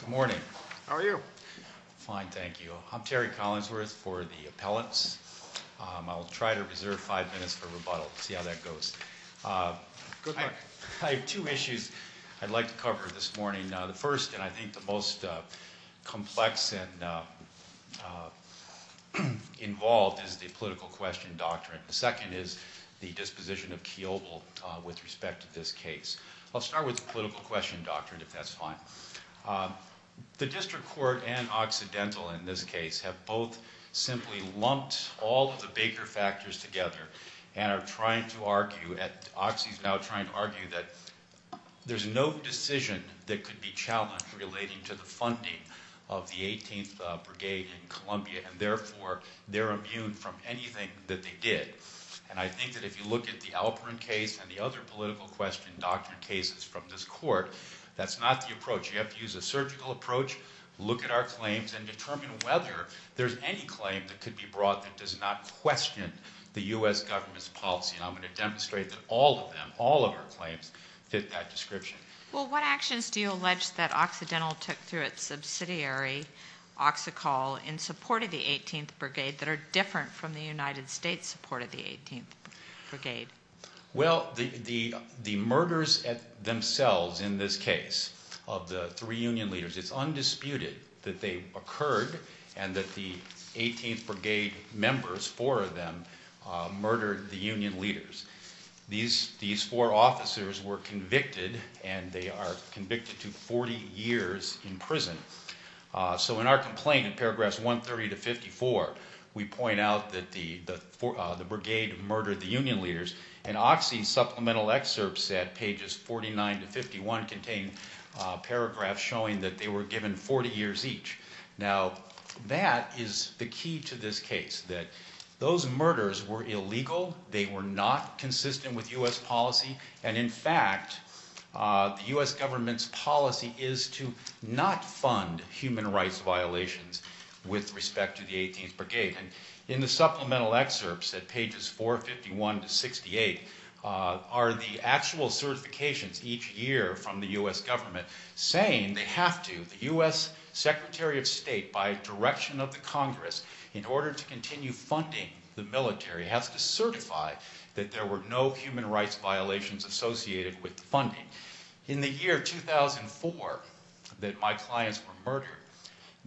Good morning. How are you? Fine, thank you. I'm Terry Collinsworth for the Appellants. I'll try to reserve five minutes for rebuttal to see how that goes. I have two issues I'd like to cover this morning. The first, and I think the most complex and involved, is the political question doctrine. The second is the disposition of Keoghle with respect to this case. I'll start with the political question doctrine, if that's fine. The District Court and Occidental, in this case, have both simply lumped all of the bigger factors together and are trying to argue, and Oxy is now trying to argue, that there's no decision that could be challenged relating to the funding of the 18th Brigade in Columbia, and therefore they're immune from anything that they did. And I think that if you look at the Alperin case and the other political question doctrine cases from this court, that's not the approach. You have to use a surgical approach, look at our claims, and determine whether there's any claim that could be brought that does not question the U.S. government's policy. And I'm going to demonstrate that all of them, all of our claims, fit that description. Well, what actions do you allege that Occidental took through its subsidiary, OxyCol, in support of the 18th Brigade that are different from the United States support of the 18th Brigade? Well, the murders themselves in this case of the three union leaders, it's undisputed that they occurred and that the 18th Brigade members, four of them, murdered the union leaders. These four officers were convicted and they are convicted to 40 years in prison. So in our complaint in paragraphs 130 to 54, we point out that the Brigade murdered the union leaders, and Oxy's supplemental excerpt set, pages 49 to 51, contain paragraphs showing that they were given 40 years each. Now, that is the key to this case, that those murders were illegal, they were not consistent with U.S. policy, and in fact, the U.S. government's policy is to not fund human rights violations with respect to the 18th Brigade. And in the supplemental excerpts at pages 451 to 68 are the actual certifications each year from the U.S. government saying they have to, the U.S. Secretary of State, by direction of the Congress, in order to continue funding the military, has to certify that there were no human rights violations associated with the funding. In the year 2004 that my clients were murdered,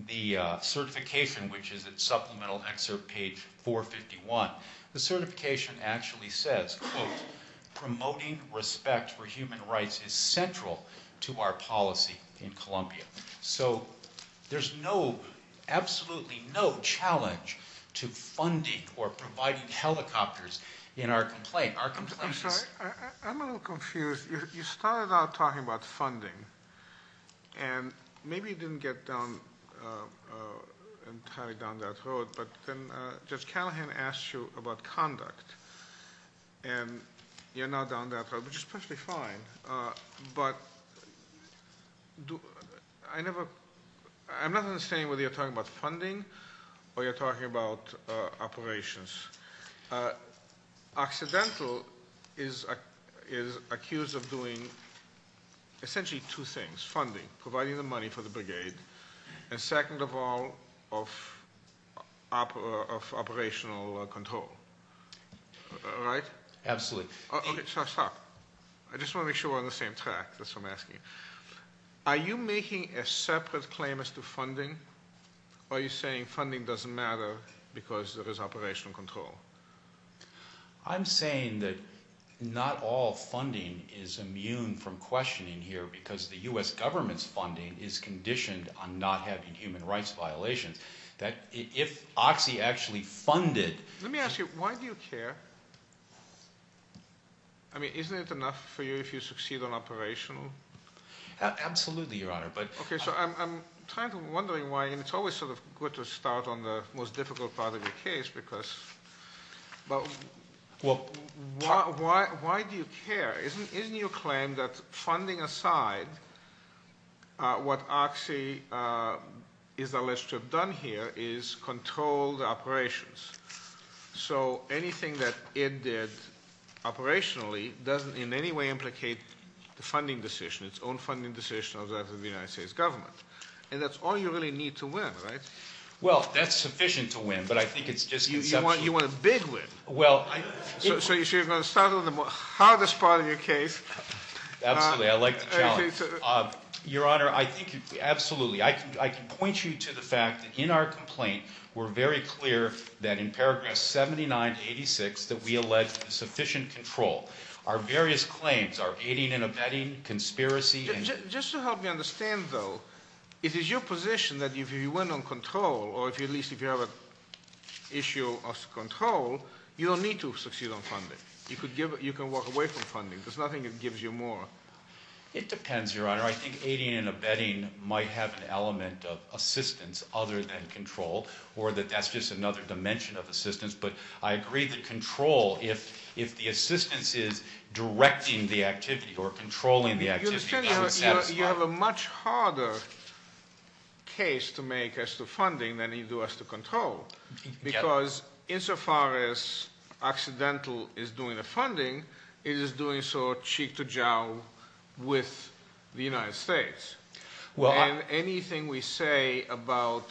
the certification, which is at supplemental excerpt page 451, the certification actually says, quote, promoting respect for human rights is central to our policy in Columbia. So there's no, absolutely no challenge to funding or providing helicopters in our complaint. I'm sorry, I'm a little confused. You started out talking about funding, and maybe you didn't get down, entirely down that road, but then Judge Callahan asked you about conduct, and you're not down that road, which is perfectly fine, but I never, I'm not understanding whether you're talking about funding or you're talking about operations. Occidental is accused of doing essentially two things. Funding, providing the money for the brigade, and second of all, of operational control. Right? Absolutely. Okay, so I'll stop. I just want to make sure we're on the same track, that's what I'm asking. Are you making a separate claim as to funding, or are you saying funding doesn't matter because there is operational control? I'm saying that not all funding is immune from questioning here because the U.S. government's funding is conditioned on not having human rights violations. That if Oxy actually funded... Let me ask you, why do you care? I mean, isn't it enough for you if you succeed on operational? Absolutely, Your Honor, but... Okay, so I'm kind of wondering why, and it's always sort of good to start on the most difficult part of the case because, but why do you care? Isn't your claim that funding aside, what Oxy is alleged to have done here is control the operations? So anything that it did operationally doesn't in any way implicate the funding decision, its own funding decision of the United States government. And that's all you really need to win, right? Well, that's sufficient to win, but I think it's just conceptual. You want a big win. Well, I... So you're going to start on the hardest part of your case. Absolutely, I like the challenge. Your Honor, I think absolutely. I can point you to the fact that in our complaint, we're very clear that in paragraph 79-86 that we allege sufficient control. Our various claims are aiding and abetting, conspiracy... Just to help me understand, though, it is your position that if you win on control, or at least if you have an issue of control, you don't need to succeed on funding. You can walk away from funding. There's nothing that gives you more. It depends, Your Honor. I think aiding and abetting might have an element of assistance other than control, or that that's just another dimension of assistance. But I agree that control, if the assistance is directing the activity or controlling the activity, doesn't satisfy... You have a much harder case to make as to funding than you do as to control. Because insofar as accidental is doing the funding, it is doing so cheek to jowl with the United States. And anything we say about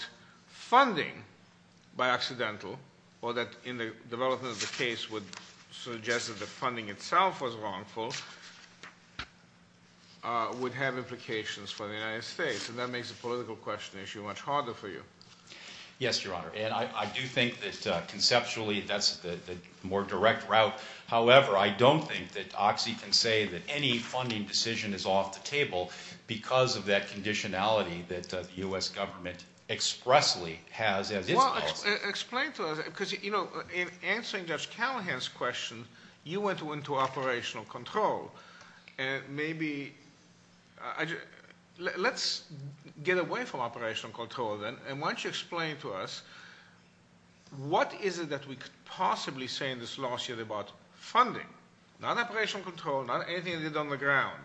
funding by accidental, or that in the development of the case would suggest that the funding itself was wrongful, would have implications for the United States. And that makes the political question issue much harder for you. Yes, Your Honor. And I do think that conceptually that's the more direct route. However, I don't think that Oxy can say that any funding decision is off the table because of that conditionality that the U.S. government expressly has. Well, explain to us, because, you know, in answering Judge Callahan's question, you went into operational control. And maybe, let's get away from operational control then. And why don't you explain to us, what is it that we could possibly say in this lawsuit about funding? Not operational control, not anything they did on the ground,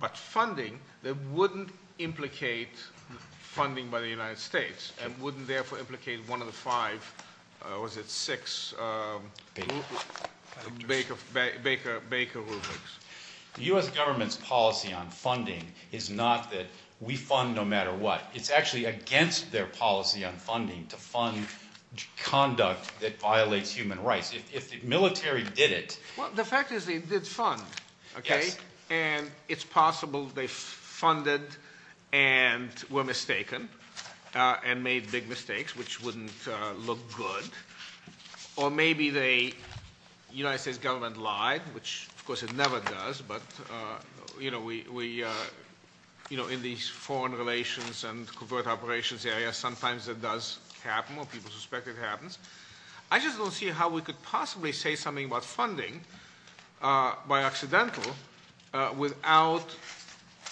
but funding that wouldn't implicate funding by the United States, and wouldn't therefore implicate one of the five, or is it six Baker rubrics? The U.S. government's policy on funding is not that we fund no matter what. It's actually against their policy on funding to fund conduct that violates human rights. If the military did it- Well, the fact is they did fund, okay? Yes. And it's possible they funded and were mistaken and made big mistakes, which wouldn't look good. Or maybe the United States government lied, which, of course, it never does. But, you know, in these foreign relations and covert operations areas, sometimes it does happen, or people suspect it happens. I just don't see how we could possibly say something about funding by accidental without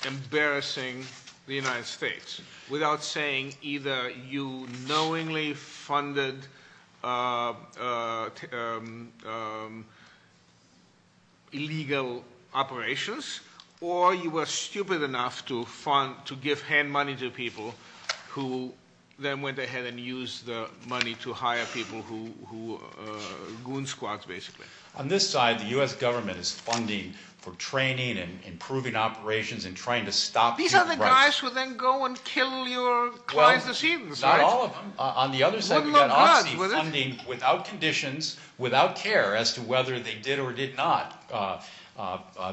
embarrassing the United States, without saying either you knowingly funded illegal operations, or you were stupid enough to fund, to give hand money to people who then went ahead and used the money to hire people who were goon squads, basically. On this side, the U.S. government is funding for training and improving operations and trying to stop human rights. These are the guys who then go and kill your clients as heathens, right? Well, not all of them. On the other side- Wouldn't look good, would it? did or did not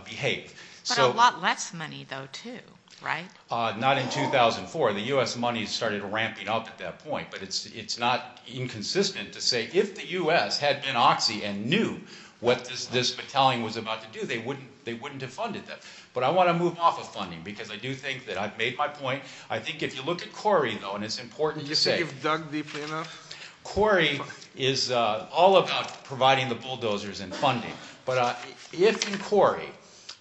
behave. But a lot less money, though, too, right? Not in 2004. The U.S. money started ramping up at that point. But it's not inconsistent to say if the U.S. had been oxy and knew what this battalion was about to do, they wouldn't have funded them. But I want to move off of funding because I do think that I've made my point. I think if you look at CORI, though, and it's important to say- Do you think you've dug deeply enough? CORI is all about providing the bulldozers and funding. But if in CORI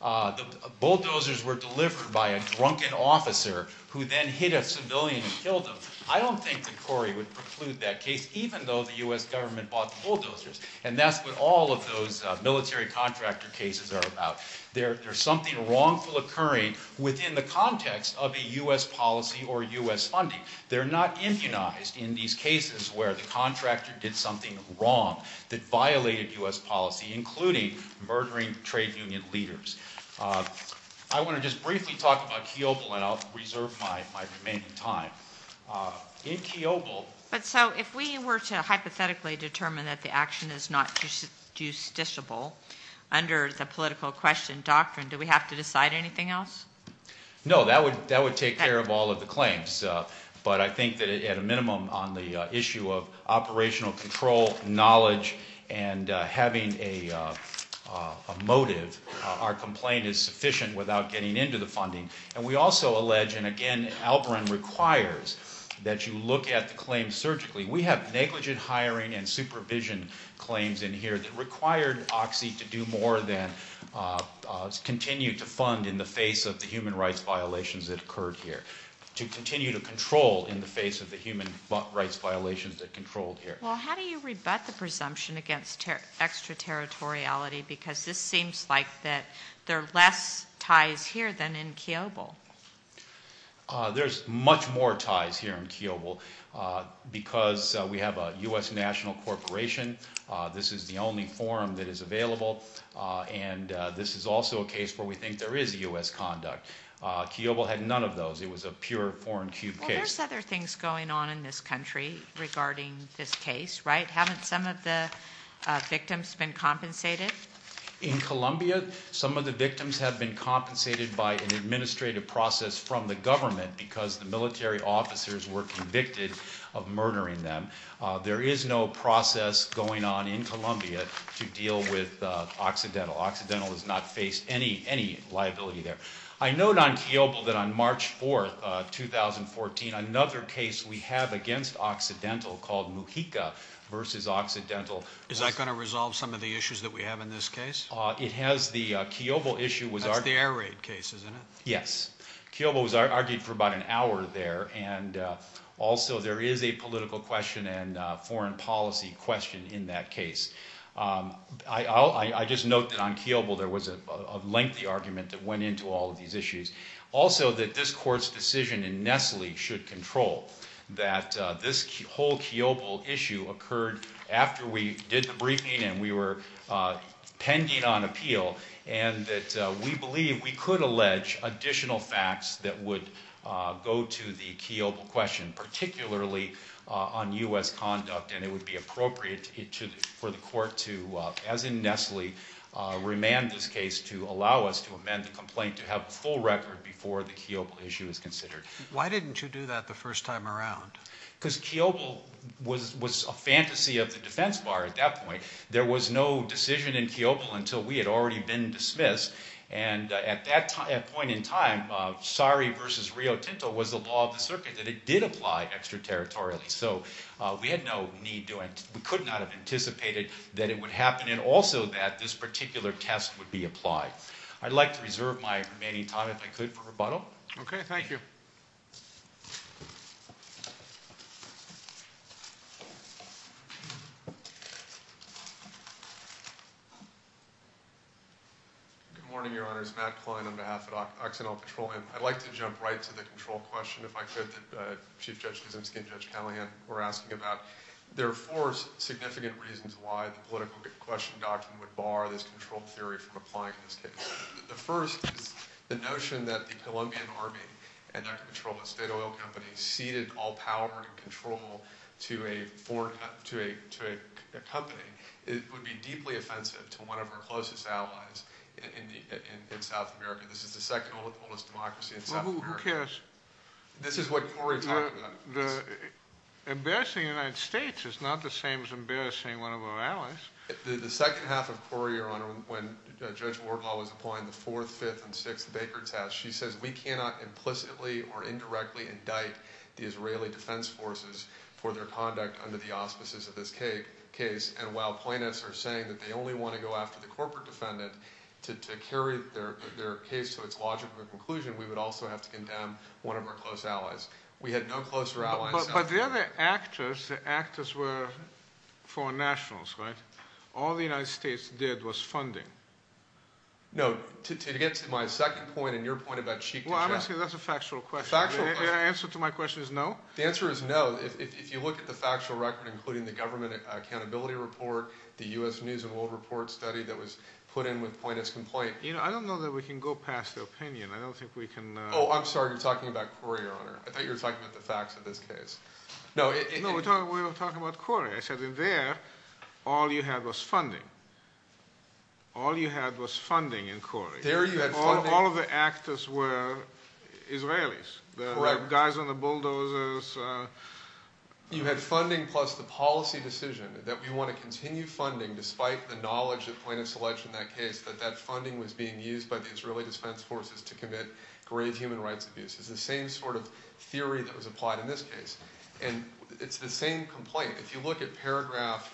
the bulldozers were delivered by a drunken officer who then hit a civilian and killed him, I don't think that CORI would preclude that case, even though the U.S. government bought the bulldozers. And that's what all of those military contractor cases are about. There's something wrongful occurring within the context of a U.S. policy or U.S. funding. They're not immunized in these cases where the contractor did something wrong that violated U.S. policy, including murdering trade union leaders. I want to just briefly talk about Kiobel, and I'll reserve my remaining time. In Kiobel- But so if we were to hypothetically determine that the action is not justiciable under the political question doctrine, do we have to decide anything else? No, that would take care of all of the claims. But I think that at a minimum on the issue of operational control, knowledge, and having a motive, our complaint is sufficient without getting into the funding. And we also allege, and again, Albrin requires that you look at the claims surgically. We have negligent hiring and supervision claims in here that required OXI to do more than continue to fund in the face of the human rights violations that occurred here. To continue to control in the face of the human rights violations that controlled here. Well, how do you rebut the presumption against extraterritoriality? Because this seems like that there are less ties here than in Kiobel. There's much more ties here in Kiobel because we have a U.S. national corporation. This is the only forum that is available. And this is also a case where we think there is U.S. conduct. Kiobel had none of those. It was a pure foreign cube case. Well, there's other things going on in this country regarding this case, right? Haven't some of the victims been compensated? In Colombia, some of the victims have been compensated by an administrative process from the government because the military officers were convicted of murdering them. There is no process going on in Colombia to deal with Occidental. Occidental has not faced any liability there. I note on Kiobel that on March 4, 2014, another case we have against Occidental called Mujica versus Occidental. Is that going to resolve some of the issues that we have in this case? It has. The Kiobel issue was argued. That's the air raid case, isn't it? Yes. Kiobel was argued for about an hour there. And also there is a political question and foreign policy question in that case. I just note that on Kiobel there was a lengthy argument that went into all of these issues. Also that this court's decision in Nestle should control that this whole Kiobel issue occurred after we did the briefing and we were pending on appeal. And that we believe we could allege additional facts that would go to the Kiobel question, particularly on U.S. conduct. And it would be appropriate for the court to, as in Nestle, remand this case to allow us to amend the complaint to have a full record before the Kiobel issue is considered. Why didn't you do that the first time around? Because Kiobel was a fantasy of the defense bar at that point. There was no decision in Kiobel until we had already been dismissed. And at that point in time, Sari v. Rio Tinto was the law of the circuit that it did apply extraterritorially. So we had no need to, we could not have anticipated that it would happen. And also that this particular test would be applied. I'd like to reserve my remaining time, if I could, for rebuttal. Okay. Thank you. Good morning, Your Honors. Matt Klein on behalf of Occidental Patrol. I'd like to jump right to the control question, if I could, that Chief Judge Kosinski and Judge Callahan were asking about. There are four significant reasons why the political question document would bar this control theory from applying in this case. The first is the notion that the Colombian Army and Occidental Patrol, a state oil company, ceded all power and control to a company. It would be deeply offensive to one of our closest allies in South America. This is the second oldest democracy in South America. Well, who cares? This is what Corey talked about. Embarrassing the United States is not the same as embarrassing one of our allies. The second half of Corey, Your Honor, when Judge Wardlaw was applying the fourth, fifth, and sixth Baker test, she says we cannot implicitly or indirectly indict the Israeli defense forces for their conduct under the auspices of this case. And while plaintiffs are saying that they only want to go after the corporate defendant to carry their case to its logical conclusion, we would also have to condemn one of our close allies. We had no closer allies in South America. But the other actors, the actors were foreign nationals, right? All the United States did was funding. No, to get to my second point and your point about cheek to cheek. Well, honestly, that's a factual question. Factual question. The answer to my question is no? The answer is no. If you look at the factual record, including the government accountability report, the U.S. News and World Report study that was put in with plaintiff's complaint. You know, I don't know that we can go past the opinion. Oh, I'm sorry. You're talking about Corey, Your Honor. I thought you were talking about the facts of this case. No, we were talking about Corey. I said in there, all you had was funding. All you had was funding in Corey. There you had funding. All of the actors were Israelis. Correct. The guys on the bulldozers. You had funding plus the policy decision that we want to continue funding despite the knowledge that plaintiffs allege in that case that that funding was being used by the Israeli defense forces to commit grave human rights abuses. It's the same sort of theory that was applied in this case. And it's the same complaint. If you look at paragraph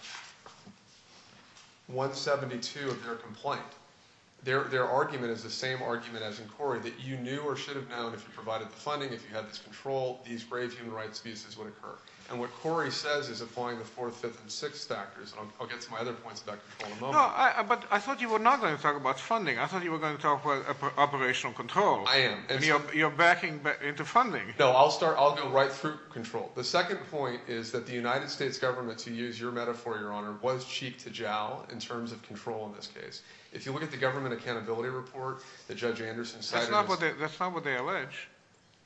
172 of their complaint, their argument is the same argument as in Corey, that you knew or should have known if you provided the funding, if you had this control, these grave human rights abuses would occur. And what Corey says is applying the fourth, fifth, and sixth factors. And I'll get to my other points about control in a moment. No, but I thought you were not going to talk about funding. I thought you were going to talk about operational control. I am. You're backing into funding. No, I'll go right through control. The second point is that the United States government, to use your metaphor, Your Honor, was cheek to jowl in terms of control in this case. If you look at the government accountability report that Judge Anderson cited. That's not what they allege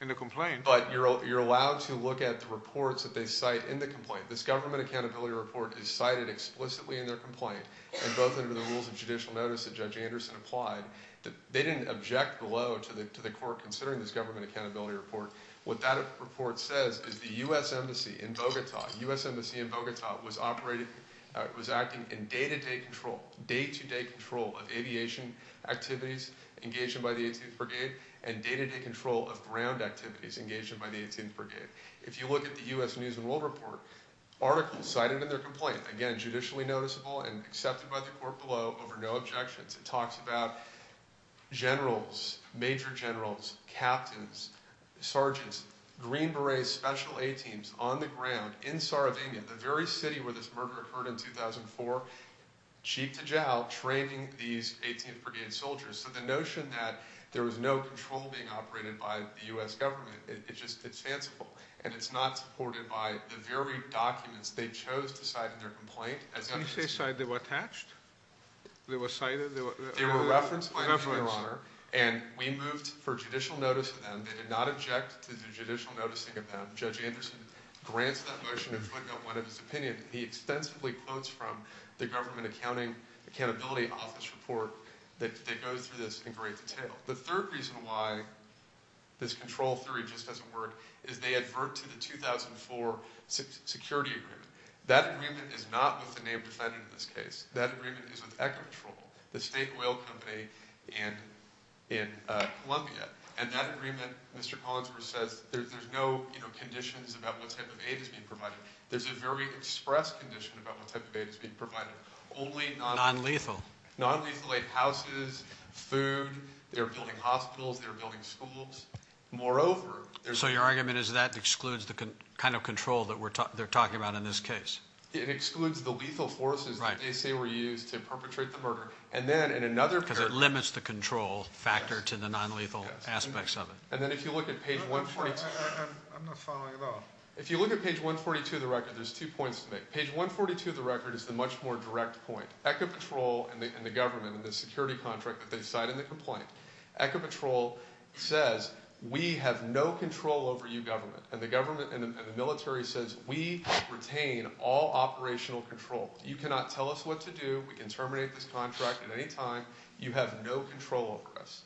in the complaint. But you're allowed to look at the reports that they cite in the complaint. This government accountability report is cited explicitly in their complaint, and both under the rules of judicial notice that Judge Anderson applied. They didn't object below to the court considering this government accountability report. What that report says is the U.S. Embassy in Bogota, U.S. Embassy in Bogota was operating, was acting in day-to-day control, day-to-day control of aviation activities engaged by the 18th Brigade and day-to-day control of ground activities engaged by the 18th Brigade. If you look at the U.S. News and World Report, articles cited in their complaint, again, judicially noticeable and accepted by the court below over no objections. It talks about generals, major generals, captains, sergeants, Green Berets, special A-teams on the ground in Sardinia, the very city where this murder occurred in 2004, cheek to jowl, training these 18th Brigade soldiers. So the notion that there was no control being operated by the U.S. government, it's just, it's fanciful, and it's not supported by the very documents they chose to cite in their complaint as evidence. You say they were attached? They were cited? They were referenced, Your Honor, and we moved for judicial notice of them. They did not object to the judicial noticing of them. The third reason why this control theory just doesn't work is they advert to the 2004 security agreement. That agreement is not with the named defendant in this case. That agreement is with Ecopetrol, the state oil company in Columbia. And that agreement, Mr. Collinsworth says, there's no, you know, conditions about what type of aid is being provided. There's a very express condition about what type of aid is being provided. Only non- Non-lethal. Non-lethal aid, houses, food, they were building hospitals, they were building schools. Moreover, there's So your argument is that excludes the kind of control that they're talking about in this case? It excludes the lethal forces that they say were used to perpetrate the murder. And then in another Because it limits the control factor to the non-lethal aspects of it. And then if you look at page 142- I'm not following at all. If you look at page 142 of the record, there's two points to make. Page 142 of the record is the much more direct point. Ecopetrol and the government and the security contract that they've cited in the complaint, Ecopetrol says we have no control over you government. And the government and the military says we retain all operational control. You cannot tell us what to do. We can terminate this contract at any time. You have no control over us.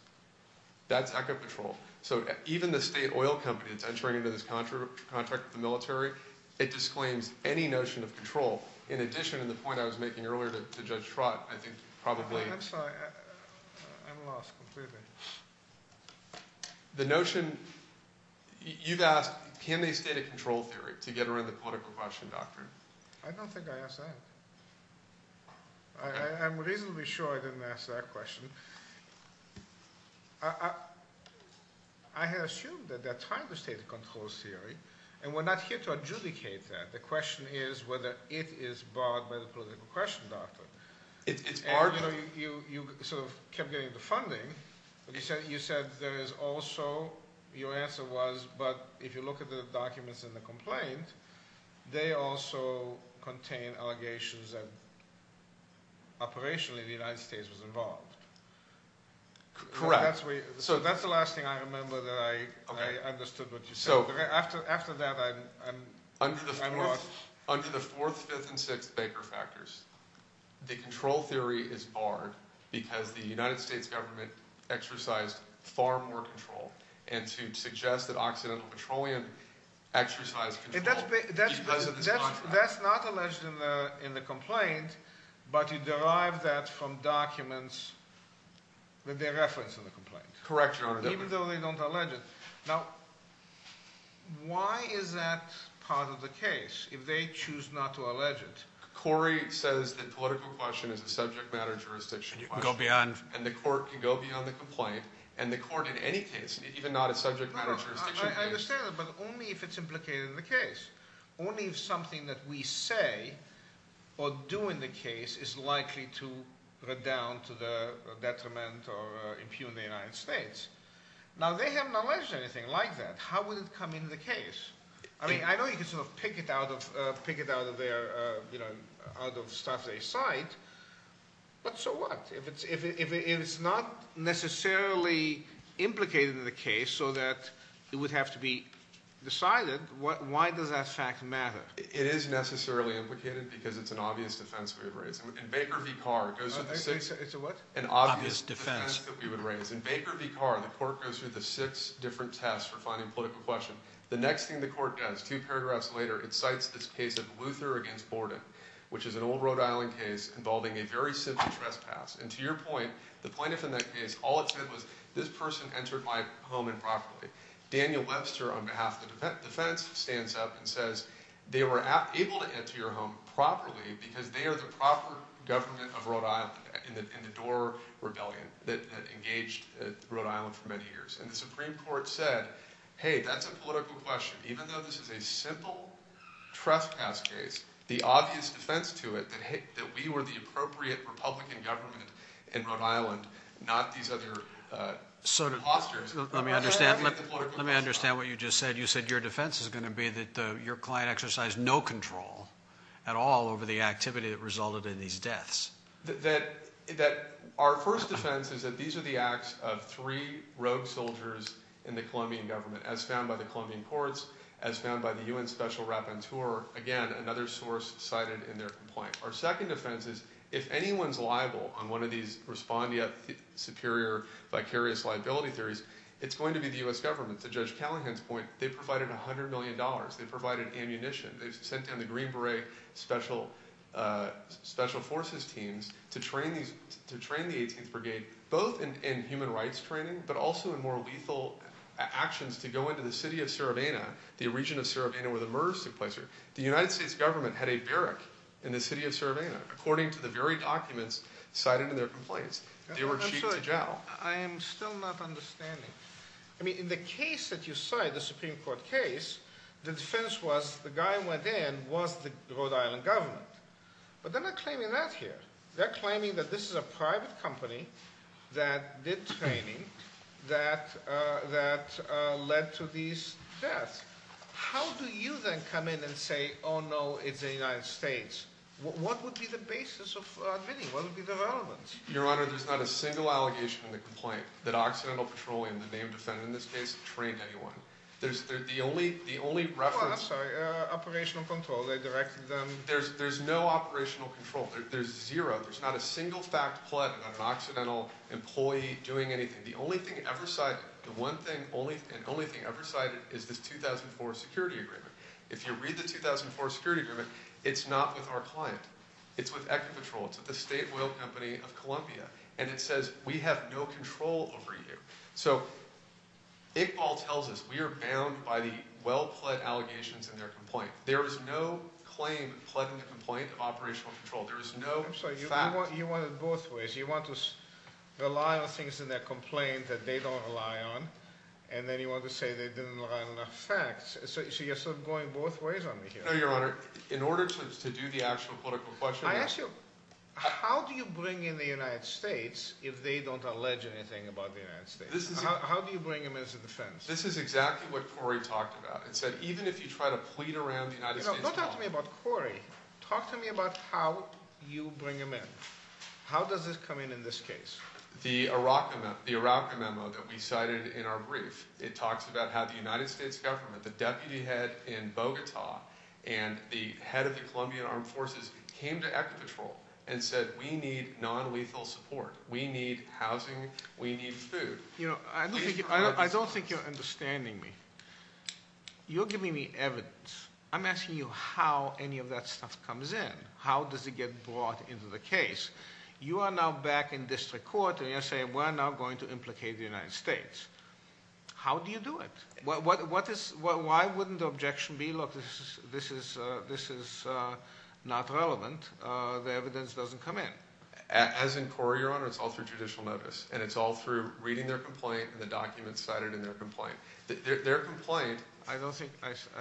That's Ecopetrol. So even the state oil company that's entering into this contract with the military, it disclaims any notion of control. In addition to the point I was making earlier to Judge Trott, I think probably- I'm sorry. I'm lost completely. The notion- you've asked can they state a control theory to get around the political question doctrine. I don't think I asked that. I'm reasonably sure I didn't ask that question. I have assumed that they're trying to state a control theory, and we're not here to adjudicate that. The question is whether it is barred by the political question doctrine. You sort of kept getting the funding, but you said there is also- your answer was, but if you look at the documents in the complaint, they also contain allegations that operationally the United States was involved. Correct. So that's the last thing I remember that I understood what you said. After that, I'm lost. Under the fourth, fifth, and sixth Baker factors, the control theory is barred because the United States government exercised far more control, and to suggest that Occidental Petroleum exercised control because of this contract. That's not alleged in the complaint, but you derive that from documents that they reference in the complaint. Correct, Your Honor. Even though they don't allege it. Now, why is that part of the case if they choose not to allege it? Corey says the political question is a subject matter jurisdiction question. And you can go beyond- Even not a subject matter jurisdiction case. I understand that, but only if it's implicated in the case. Only if something that we say or do in the case is likely to redound to the detriment or impugn the United States. Now, they have not alleged anything like that. How would it come into the case? I mean, I know you can sort of pick it out of their- out of staff's sight, but so what? If it's not necessarily implicated in the case so that it would have to be decided, why does that fact matter? It is necessarily implicated because it's an obvious defense we would raise. In Baker v. Carr, it goes through the six- It's a what? An obvious defense that we would raise. In Baker v. Carr, the court goes through the six different tests for finding political question. The next thing the court does, two paragraphs later, it cites this case of Luther against Borden, which is an old Rhode Island case involving a very simple trespass. And to your point, the plaintiff in that case, all it said was, this person entered my home improperly. Daniel Webster, on behalf of the defense, stands up and says, they were able to enter your home properly because they are the proper government of Rhode Island in the Dorr Rebellion that engaged Rhode Island for many years. And the Supreme Court said, hey, that's a political question. Even though this is a simple trespass case, the obvious defense to it, that we were the appropriate Republican government in Rhode Island, not these other imposters. Let me understand what you just said. You said your defense is going to be that your client exercised no control at all over the activity that resulted in these deaths. Our first defense is that these are the acts of three rogue soldiers in the Colombian government, as found by the Colombian courts, as found by the UN Special Rapporteur, again, another source cited in their complaint. Our second defense is, if anyone's liable on one of these respond yet superior vicarious liability theories, it's going to be the U.S. government. To Judge Callahan's point, they provided $100 million. They provided ammunition. They sent down the Green Beret Special Forces teams to train the 18th Brigade, both in human rights training, but also in more lethal actions to go into the city of Serevena, the region of Serevena where the murders took place. The United States government had a barrack in the city of Serevena, according to the very documents cited in their complaints. They were cheated to jail. I am still not understanding. I mean, in the case that you cite, the Supreme Court case, the defense was the guy who went in was the Rhode Island government. But they're not claiming that here. They're claiming that this is a private company that did training that led to these deaths. How do you then come in and say, oh, no, it's the United States? What would be the basis of admitting? What would be the relevance? Your Honor, there's not a single allegation in the complaint that Occidental Petroleum, the name defended in this case, trained anyone. The only reference— Oh, I'm sorry. Operational control. They directed them— There's no operational control. There's zero. There's not a single fact pled on an Occidental employee doing anything. The only thing ever cited, the one thing and only thing ever cited is this 2004 security agreement. If you read the 2004 security agreement, it's not with our client. It's with Equipetrol. It's with the state oil company of Columbia. And it says we have no control over you. So Iqbal tells us we are bound by the well-pled allegations in their complaint. There is no claim pled in the complaint of operational control. There is no fact— I'm sorry. You want it both ways. You want to rely on things in their complaint that they don't rely on, and then you want to say they didn't rely on enough facts. So you're sort of going both ways on me here. No, Your Honor. In order to do the actual political question— I ask you, how do you bring in the United States if they don't allege anything about the United States? How do you bring them into defense? This is exactly what Corey talked about. It said even if you try to plead around the United States— You know, don't talk to me about Corey. Talk to me about how you bring them in. How does this come in in this case? The Iraq memo that we cited in our brief, it talks about how the United States government, the deputy head in Bogota, and the head of the Colombian Armed Forces came to Echo Patrol and said we need nonlethal support. We need housing. We need food. You know, I don't think you're understanding me. You're giving me evidence. I'm asking you how any of that stuff comes in. How does it get brought into the case? You are now back in district court and you're saying we're now going to implicate the United States. How do you do it? Why wouldn't the objection be, look, this is not relevant. The evidence doesn't come in. As in Corey, Your Honor, it's all through judicial notice, and it's all through reading their complaint and the documents cited in their complaint. Their complaint— I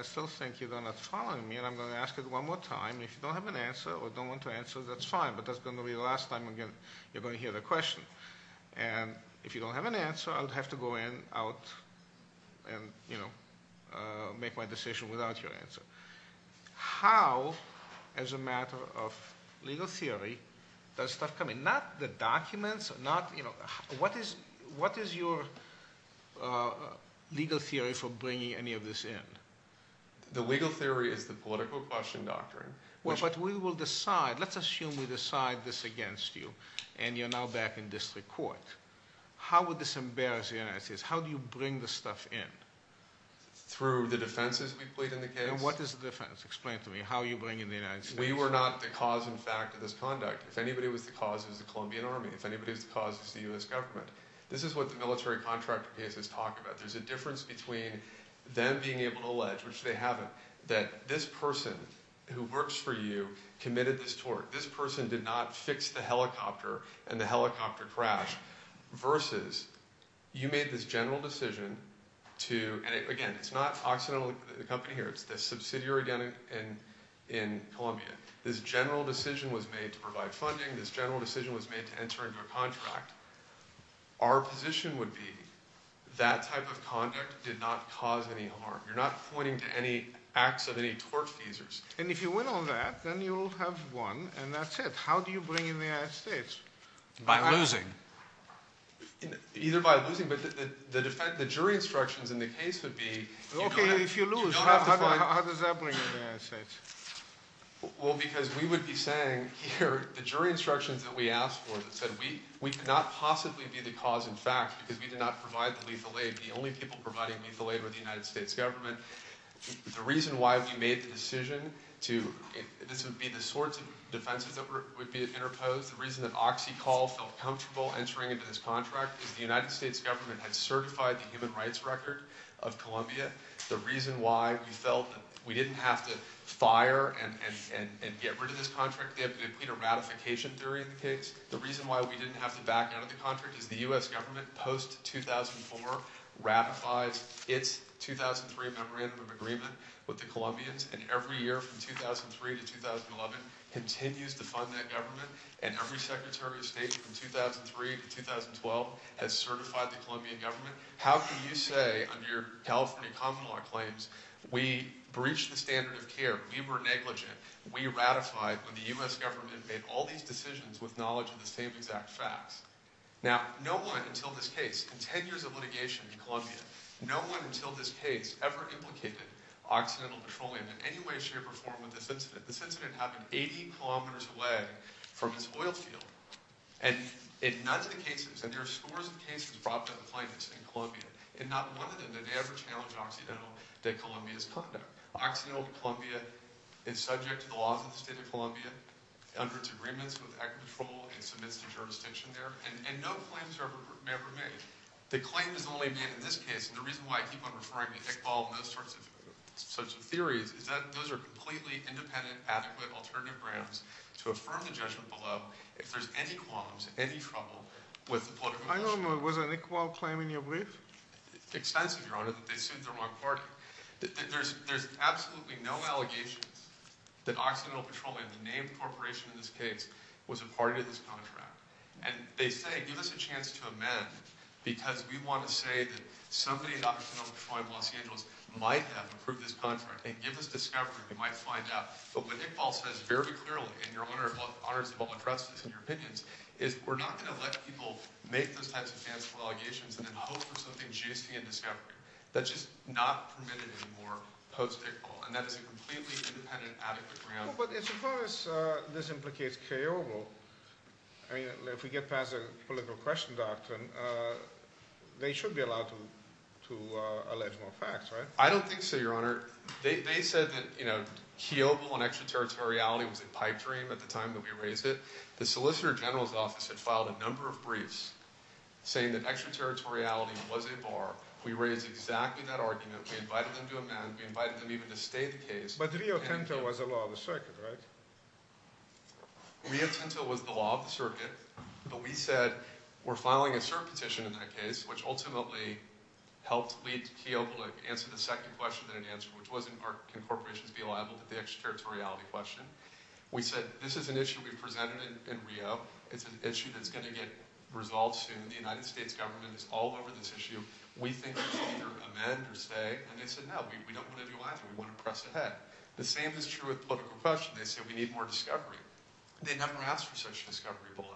still think you're not following me, and I'm going to ask it one more time. If you don't have an answer or don't want to answer, that's fine, but that's going to be the last time, again, you're going to hear the question. And if you don't have an answer, I'll have to go in, out, and, you know, make my decision without your answer. How, as a matter of legal theory, does stuff come in? Not the documents, not, you know, what is your legal theory for bringing any of this in? The legal theory is the political question doctrine. But we will decide, let's assume we decide this against you, and you're now back in district court. How would this embarrass the United States? How do you bring this stuff in? Through the defenses we plead in the case. And what is the defense? Explain to me how you bring in the United States. We were not the cause and fact of this conduct. If anybody was the cause, it was the Colombian army. If anybody was the cause, it was the U.S. government. This is what the military contractor cases talk about. There's a difference between them being able to allege, which they haven't, that this person who works for you committed this tort, this person did not fix the helicopter and the helicopter crashed, versus you made this general decision to, and again, it's not Occidental, the company here, it's the subsidiary again in Colombia. This general decision was made to provide funding. This general decision was made to enter into a contract. Our position would be that type of conduct did not cause any harm. You're not pointing to any acts of any tortfeasors. And if you win on that, then you'll have won, and that's it. How do you bring in the United States? By losing. Either by losing, but the jury instructions in the case would be you don't have to find... Okay, if you lose, how does that bring in the United States? Well, because we would be saying here the jury instructions that we asked for that said we could not possibly be the cause in fact because we did not provide the lethal aid. The only people providing lethal aid were the United States government. The reason why we made the decision to, this would be the sorts of defenses that would be interposed. The reason that OxyCall felt comfortable entering into this contract is the United States government had certified the human rights record of Colombia. The reason why we felt that we didn't have to fire and get rid of this contract, they had to complete a ratification during the case. The reason why we didn't have to back out of the contract is the U.S. government post-2004 ratifies its 2003 Memorandum of Agreement with the Colombians, and every year from 2003 to 2011 continues to fund that government, and every Secretary of State from 2003 to 2012 has certified the Colombian government. How can you say under your California common law claims we breached the standard of care, we were negligent, we ratified when the U.S. government made all these decisions with knowledge of the same exact facts? Now, no one until this case, in 10 years of litigation in Colombia, no one until this case ever implicated Occidental Petroleum in any way, shape, or form with this incident. This incident happened 80 kilometers away from this oil field, and in none of the cases, and there are scores of cases brought to the plaintiffs in Colombia, and not one of them did ever challenge Occidental de Colombia's conduct. Occidental de Colombia is subject to the laws of the state of Colombia, under its agreements with Agri-Petrol, and submits to jurisdiction there, and no claims are ever made. The claim is only made in this case, and the reason why I keep on referring to Iqbal and those sorts of theories is that those are completely independent, adequate, alternative grounds to affirm the judgment below, if there's any qualms, any trouble with the political issue. I know, but was an Iqbal claim in your brief? Extensive, Your Honor, that they sued the wrong party. There's absolutely no allegations that Occidental Petroleum, the name corporation in this case, was a party to this contract, and they say, give us a chance to amend, because we want to say that somebody at Occidental Petroleum Los Angeles might have approved this contract, and give us discovery, we might find out. But what Iqbal says very clearly, and Your Honor is the one who addresses this in your opinions, is we're not going to let people make those types of fanciful allegations and then hope for something juicy in discovery. That's just not permitted anymore post-Iqbal, and that is a completely independent, adequate ground. But as far as this implicates Kiobo, if we get past the political question doctrine, they should be allowed to allege more facts, right? I don't think so, Your Honor. They said that Kiobo and extraterritoriality was a pipe dream at the time that we raised it. The Solicitor General's office had filed a number of briefs saying that extraterritoriality was a bar. We raised exactly that argument. We invited them to amend. We invited them even to stay the case. But Rio Tinto was the law of the circuit, right? Rio Tinto was the law of the circuit, but we said we're filing a cert petition in that case, which ultimately helped lead Kiobo to answer the second question that it answered, which was, can corporations be liable to the extraterritoriality question? We said, this is an issue we've presented in Rio. It's an issue that's going to get resolved soon. The United States government is all over this issue. We think we should either amend or stay. And they said, no, we don't want to do either. We want to press ahead. The same is true with political question. They say we need more discovery. They never asked for such discovery below.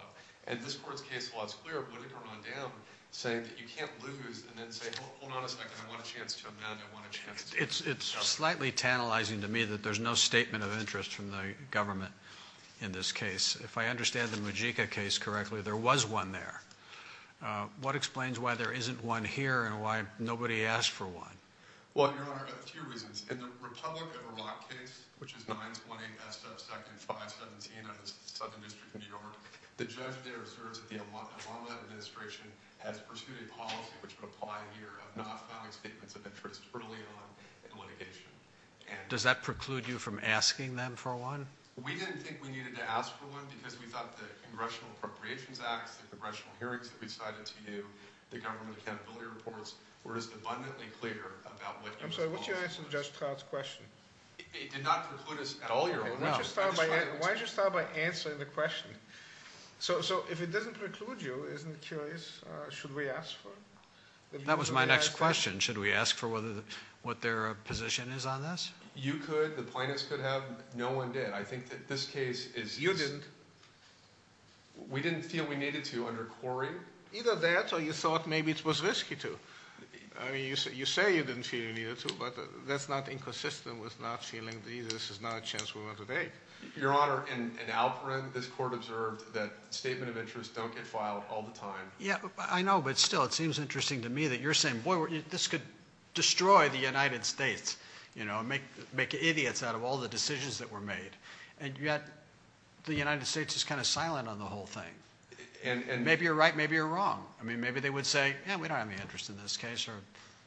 And this court's case law is clear of litigation rundown, saying that you can't lose and then say, hold on a second. I want a chance to amend. I want a chance to discuss. It's slightly tantalizing to me that there's no statement of interest from the government in this case. If I understand the Mujica case correctly, there was one there. What explains why there isn't one here and why nobody asked for one? Well, Your Honor, a few reasons. In the Republic of Iraq case, which is 928SF-517 out of the Southern District of New York, the judge there observes that the Obama administration has pursued a policy, which would apply here, of not filing statements of interest early on in litigation. Does that preclude you from asking them for one? We didn't think we needed to ask for one because we thought the Congressional Appropriations Act, the congressional hearings that we cited to you, the government accountability reports, were as abundantly clear about what you're supposed to do. I'm sorry, what's your answer to Judge Trout's question? It did not preclude us at all, Your Honor. Why don't you start by answering the question? So if it doesn't preclude you, isn't it curious? Should we ask for it? That was my next question. Should we ask for what their position is on this? You could. The plaintiffs could have. No one did. I think that this case is – You didn't. We didn't feel we needed to under Cory. Either that or you thought maybe it was risky to. I mean you say you didn't feel you needed to, but that's not inconsistent with not feeling this is not a chance we want to take. Your Honor, in Alperin, this court observed that statement of interest don't get filed all the time. Yeah, I know, but still it seems interesting to me that you're saying, boy, this could destroy the United States, you know, make idiots out of all the decisions that were made. And yet the United States is kind of silent on the whole thing. Maybe you're right, maybe you're wrong. I mean maybe they would say, yeah, we don't have any interest in this case.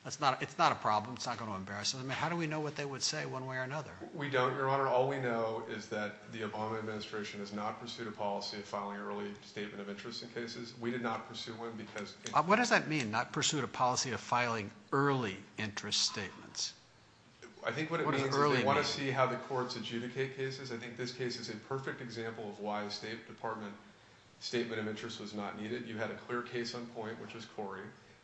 It's not a problem. It's not going to embarrass them. I mean how do we know what they would say one way or another? We don't, Your Honor. All we know is that the Obama administration has not pursued a policy of filing early statement of interest in cases. We did not pursue one because – What does that mean, not pursued a policy of filing early interest statements? I think what it means is they want to see how the courts adjudicate cases. I think this case is a perfect example of why a State Department statement of interest was not needed. You had a clear case on point, which was Cory.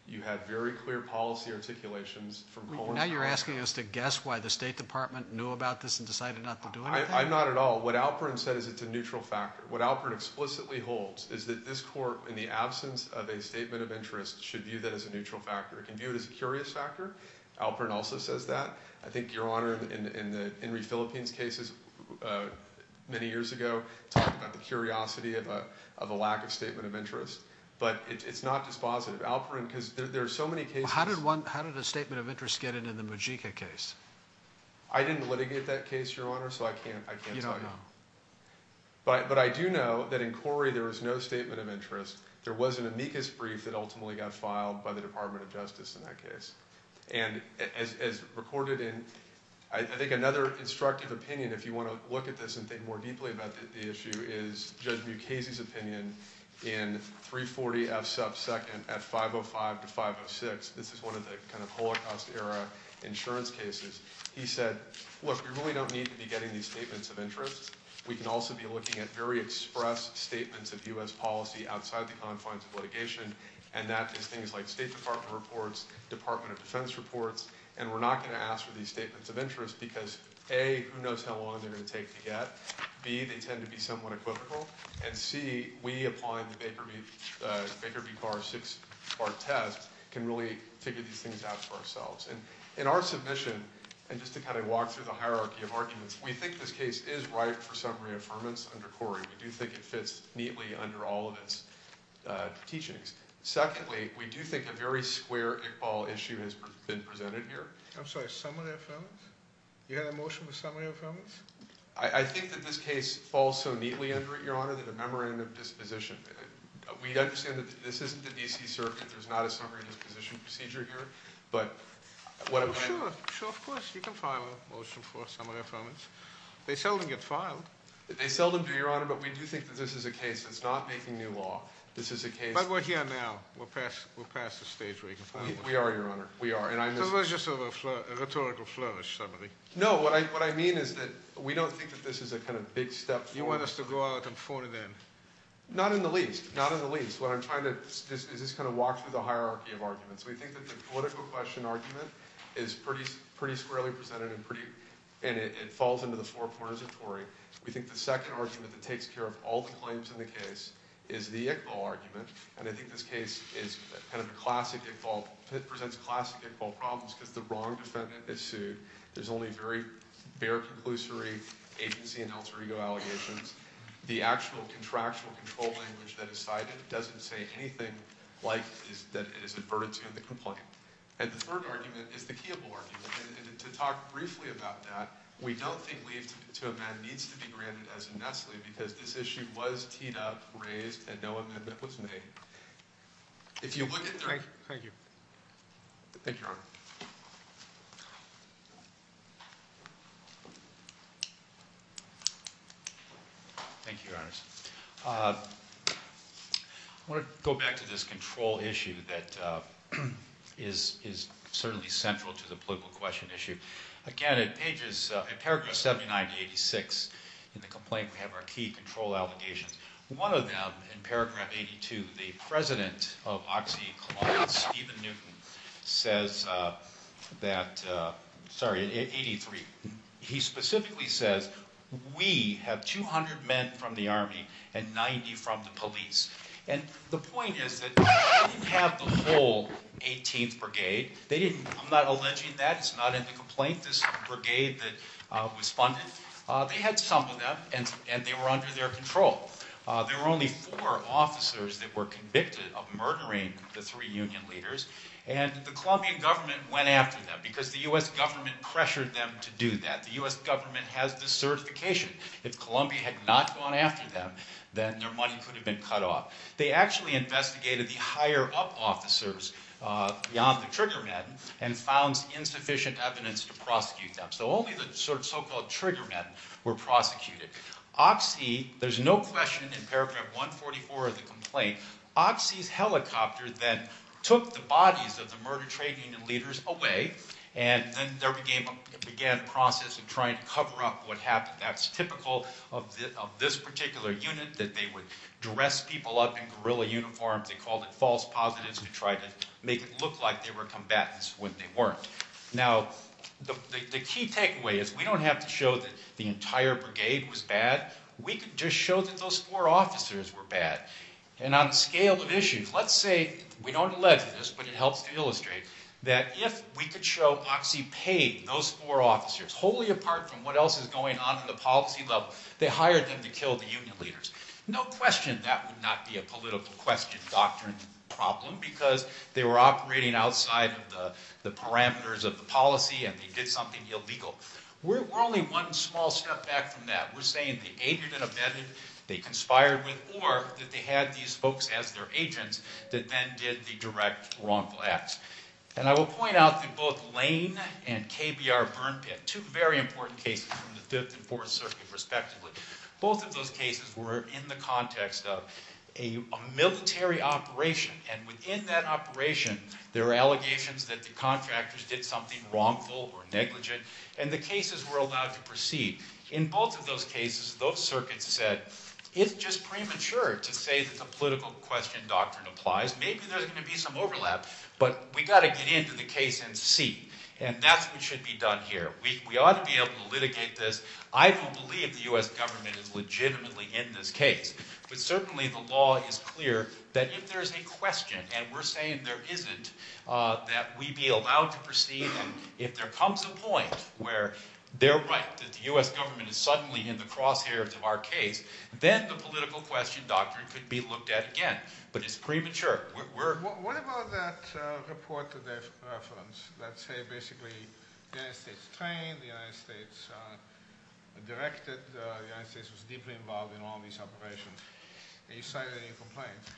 You had very clear policy articulations from Cohen. Now you're asking us to guess why the State Department knew about this and decided not to do anything? I'm not at all. What Alperin said is it's a neutral factor. What Alperin explicitly holds is that this court, in the absence of a statement of interest, should view that as a neutral factor. It can view it as a curious factor. Alperin also says that. I think, Your Honor, in the Henry Philippines cases many years ago talked about the curiosity of a lack of statement of interest. But it's not dispositive. Alperin – because there are so many cases – How did a statement of interest get in in the Majika case? I didn't litigate that case, Your Honor, so I can't tell you. You don't know. But I do know that in Cory there was no statement of interest. There was an amicus brief that ultimately got filed by the Department of Justice in that case. And as recorded in – I think another instructive opinion, if you want to look at this and think more deeply about the issue, is Judge Mukasey's opinion in 340 F sub 2nd at 505 to 506. This is one of the kind of Holocaust-era insurance cases. He said, look, we really don't need to be getting these statements of interest. We can also be looking at very express statements of U.S. policy outside the confines of litigation, and that is things like State Department reports, Department of Defense reports. And we're not going to ask for these statements of interest because, A, who knows how long they're going to take to get. B, they tend to be somewhat equivocal. And C, we applying the Baker v. Barr six-part test can really figure these things out for ourselves. And in our submission, and just to kind of walk through the hierarchy of arguments, we think this case is ripe for summary affirmance under Cory. We do think it fits neatly under all of its teachings. Secondly, we do think a very square Iqbal issue has been presented here. I'm sorry, summary affirmance? You have a motion for summary affirmance? I think that this case falls so neatly under it, Your Honor, that a memorandum of disposition. We understand that this isn't the D.C. Circuit. There's not a summary disposition procedure here. Sure, sure, of course. You can file a motion for summary affirmance. They seldom get filed. They seldom do, Your Honor, but we do think that this is a case that's not making new law. But we're here now. We're past the stage where you can file a motion. We are, Your Honor. So let's just have a rhetorical flourish, somebody. No, what I mean is that we don't think that this is a kind of big step forward. You want us to go out and put it in? Not in the least. Not in the least. What I'm trying to do is just kind of walk through the hierarchy of arguments. We think that the political question argument is pretty squarely presented, and it falls into the four corners of Tory. We think the second argument that takes care of all the claims in the case is the Iqbal argument, and I think this case presents classic Iqbal problems because the wrong defendant is sued. There's only very bare conclusory agency and alter ego allegations. The actual contractual control language that is cited doesn't say anything like that it is adverted to in the complaint. And the third argument is the Keeble argument, and to talk briefly about that, we don't think leave to amend needs to be granted as a Nestle because this issue was teed up, raised, and no amendment was made. If you look at the— Thank you. Thank you, Your Honor. Thank you. Thank you, Your Honors. I want to go back to this control issue that is certainly central to the political question issue. Again, at pages—at paragraph 79 to 86 in the complaint, we have our key control allegations. One of them in paragraph 82, the president of OxyContin, Stephen Newton, says that—sorry, 83. He specifically says, we have 200 men from the Army and 90 from the police. And the point is that they didn't have the whole 18th Brigade. They didn't—I'm not alleging that. It's not in the complaint, this brigade that was funded. They had some of them, and they were under their control. There were only four officers that were convicted of murdering the three union leaders, and the Colombian government went after them because the U.S. government pressured them to do that. The U.S. government has the certification. If Colombia had not gone after them, then their money could have been cut off. They actually investigated the higher-up officers beyond the trigger men and found insufficient evidence to prosecute them. So only the so-called trigger men were prosecuted. Oxy—there's no question in paragraph 144 of the complaint—Oxy's helicopter then took the bodies of the murder trade union leaders away, and then began a process of trying to cover up what happened. That's typical of this particular unit, that they would dress people up in guerrilla uniforms. They called it false positives to try to make it look like they were combatants when they weren't. Now, the key takeaway is we don't have to show that the entire brigade was bad. We could just show that those four officers were bad. And on the scale of issues, let's say—we don't allege this, but it helps to illustrate— that if we could show Oxy paid those four officers, wholly apart from what else is going on in the policy level, they hired them to kill the union leaders. No question that would not be a political question, doctrine, problem, because they were operating outside of the parameters of the policy and they did something illegal. We're only one small step back from that. We're saying they aided and abetted, they conspired with, or that they had these folks as their agents that then did the direct wrongful acts. And I will point out that both Lane and KBR Burn Pit—two very important cases from the Fifth and Fourth Circuit, respectively— both of those cases were in the context of a military operation. And within that operation, there were allegations that the contractors did something wrongful or negligent, and the cases were allowed to proceed. In both of those cases, those circuits said, it's just premature to say that the political question doctrine applies. Maybe there's going to be some overlap, but we've got to get into the case and see. And that's what should be done here. We ought to be able to litigate this. I don't believe the U.S. government is legitimately in this case, but certainly the law is clear that if there's a question, and we're saying there isn't, that we be allowed to proceed. And if there comes a point where they're right that the U.S. government is suddenly in the crosshairs of our case, then the political question doctrine could be looked at again. But it's premature. What about that report that they've referenced that say basically the United States trained, the United States directed, the United States was deeply involved in all these operations? Have you cited any complaints?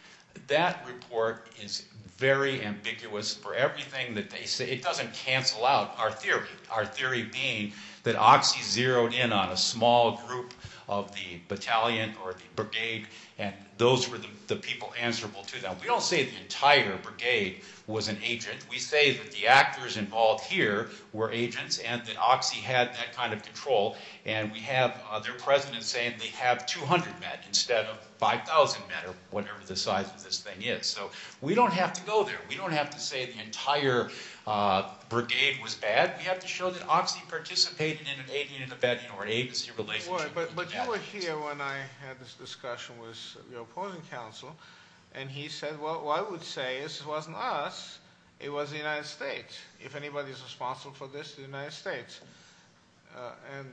That report is very ambiguous for everything that they say. It doesn't cancel out our theory. Our theory being that Oxy zeroed in on a small group of the battalion or the brigade, and those were the people answerable to them. We don't say the entire brigade was an agent. We say that the actors involved here were agents and that Oxy had that kind of control. And we have their president saying they have 200 men instead of 5,000 men or whatever the size of this thing is. So we don't have to go there. We don't have to say the entire brigade was bad. We have to show that Oxy participated in an agent in the battalion or agency relationship. But you were here when I had this discussion with your opponent counsel, and he said, well, I would say this wasn't us, it was the United States. If anybody is responsible for this, it's the United States. And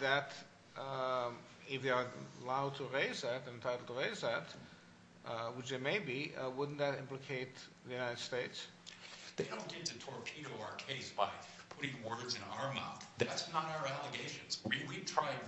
that if they are allowed to raise that, entitled to raise that, which they may be, wouldn't that implicate the United States? They don't need to torpedo our case by putting words in our mouth. That's not our allegations.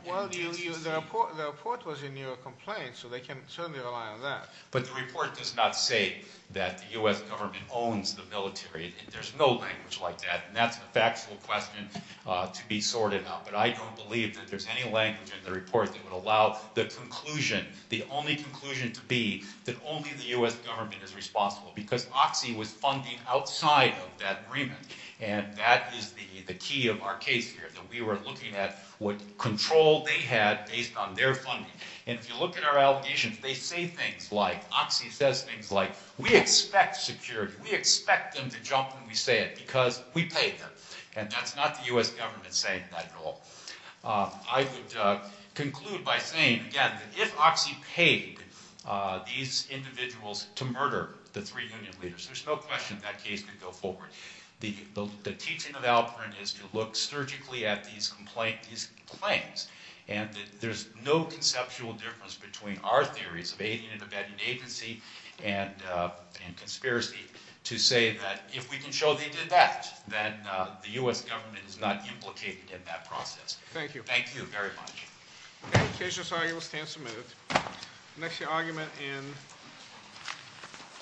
Well, the report was in your complaint, so they can certainly rely on that. But the report does not say that the U.S. government owns the military, and there's no language like that. And that's a factual question to be sorted out. But I don't believe that there's any language in the report that would allow the conclusion, the only conclusion to be that only the U.S. government is responsible, because Oxy was funding outside of that agreement. And that is the key of our case here, that we were looking at what control they had based on their funding. And if you look at our allegations, they say things like, Oxy says things like, we expect security, we expect them to jump when we say it, because we paid them. And that's not the U.S. government saying that at all. I would conclude by saying, again, that if Oxy paid these individuals to murder the three union leaders, there's no question that case could go forward. The teaching of Alperin is to look surgically at these claims. And there's no conceptual difference between our theories of aiding and abetting agency and conspiracy to say that if we can show they did that, then the U.S. government is not implicated in that process. Thank you. Thank you very much. Okay, the case is argued. We'll stand some minutes. The next argument in.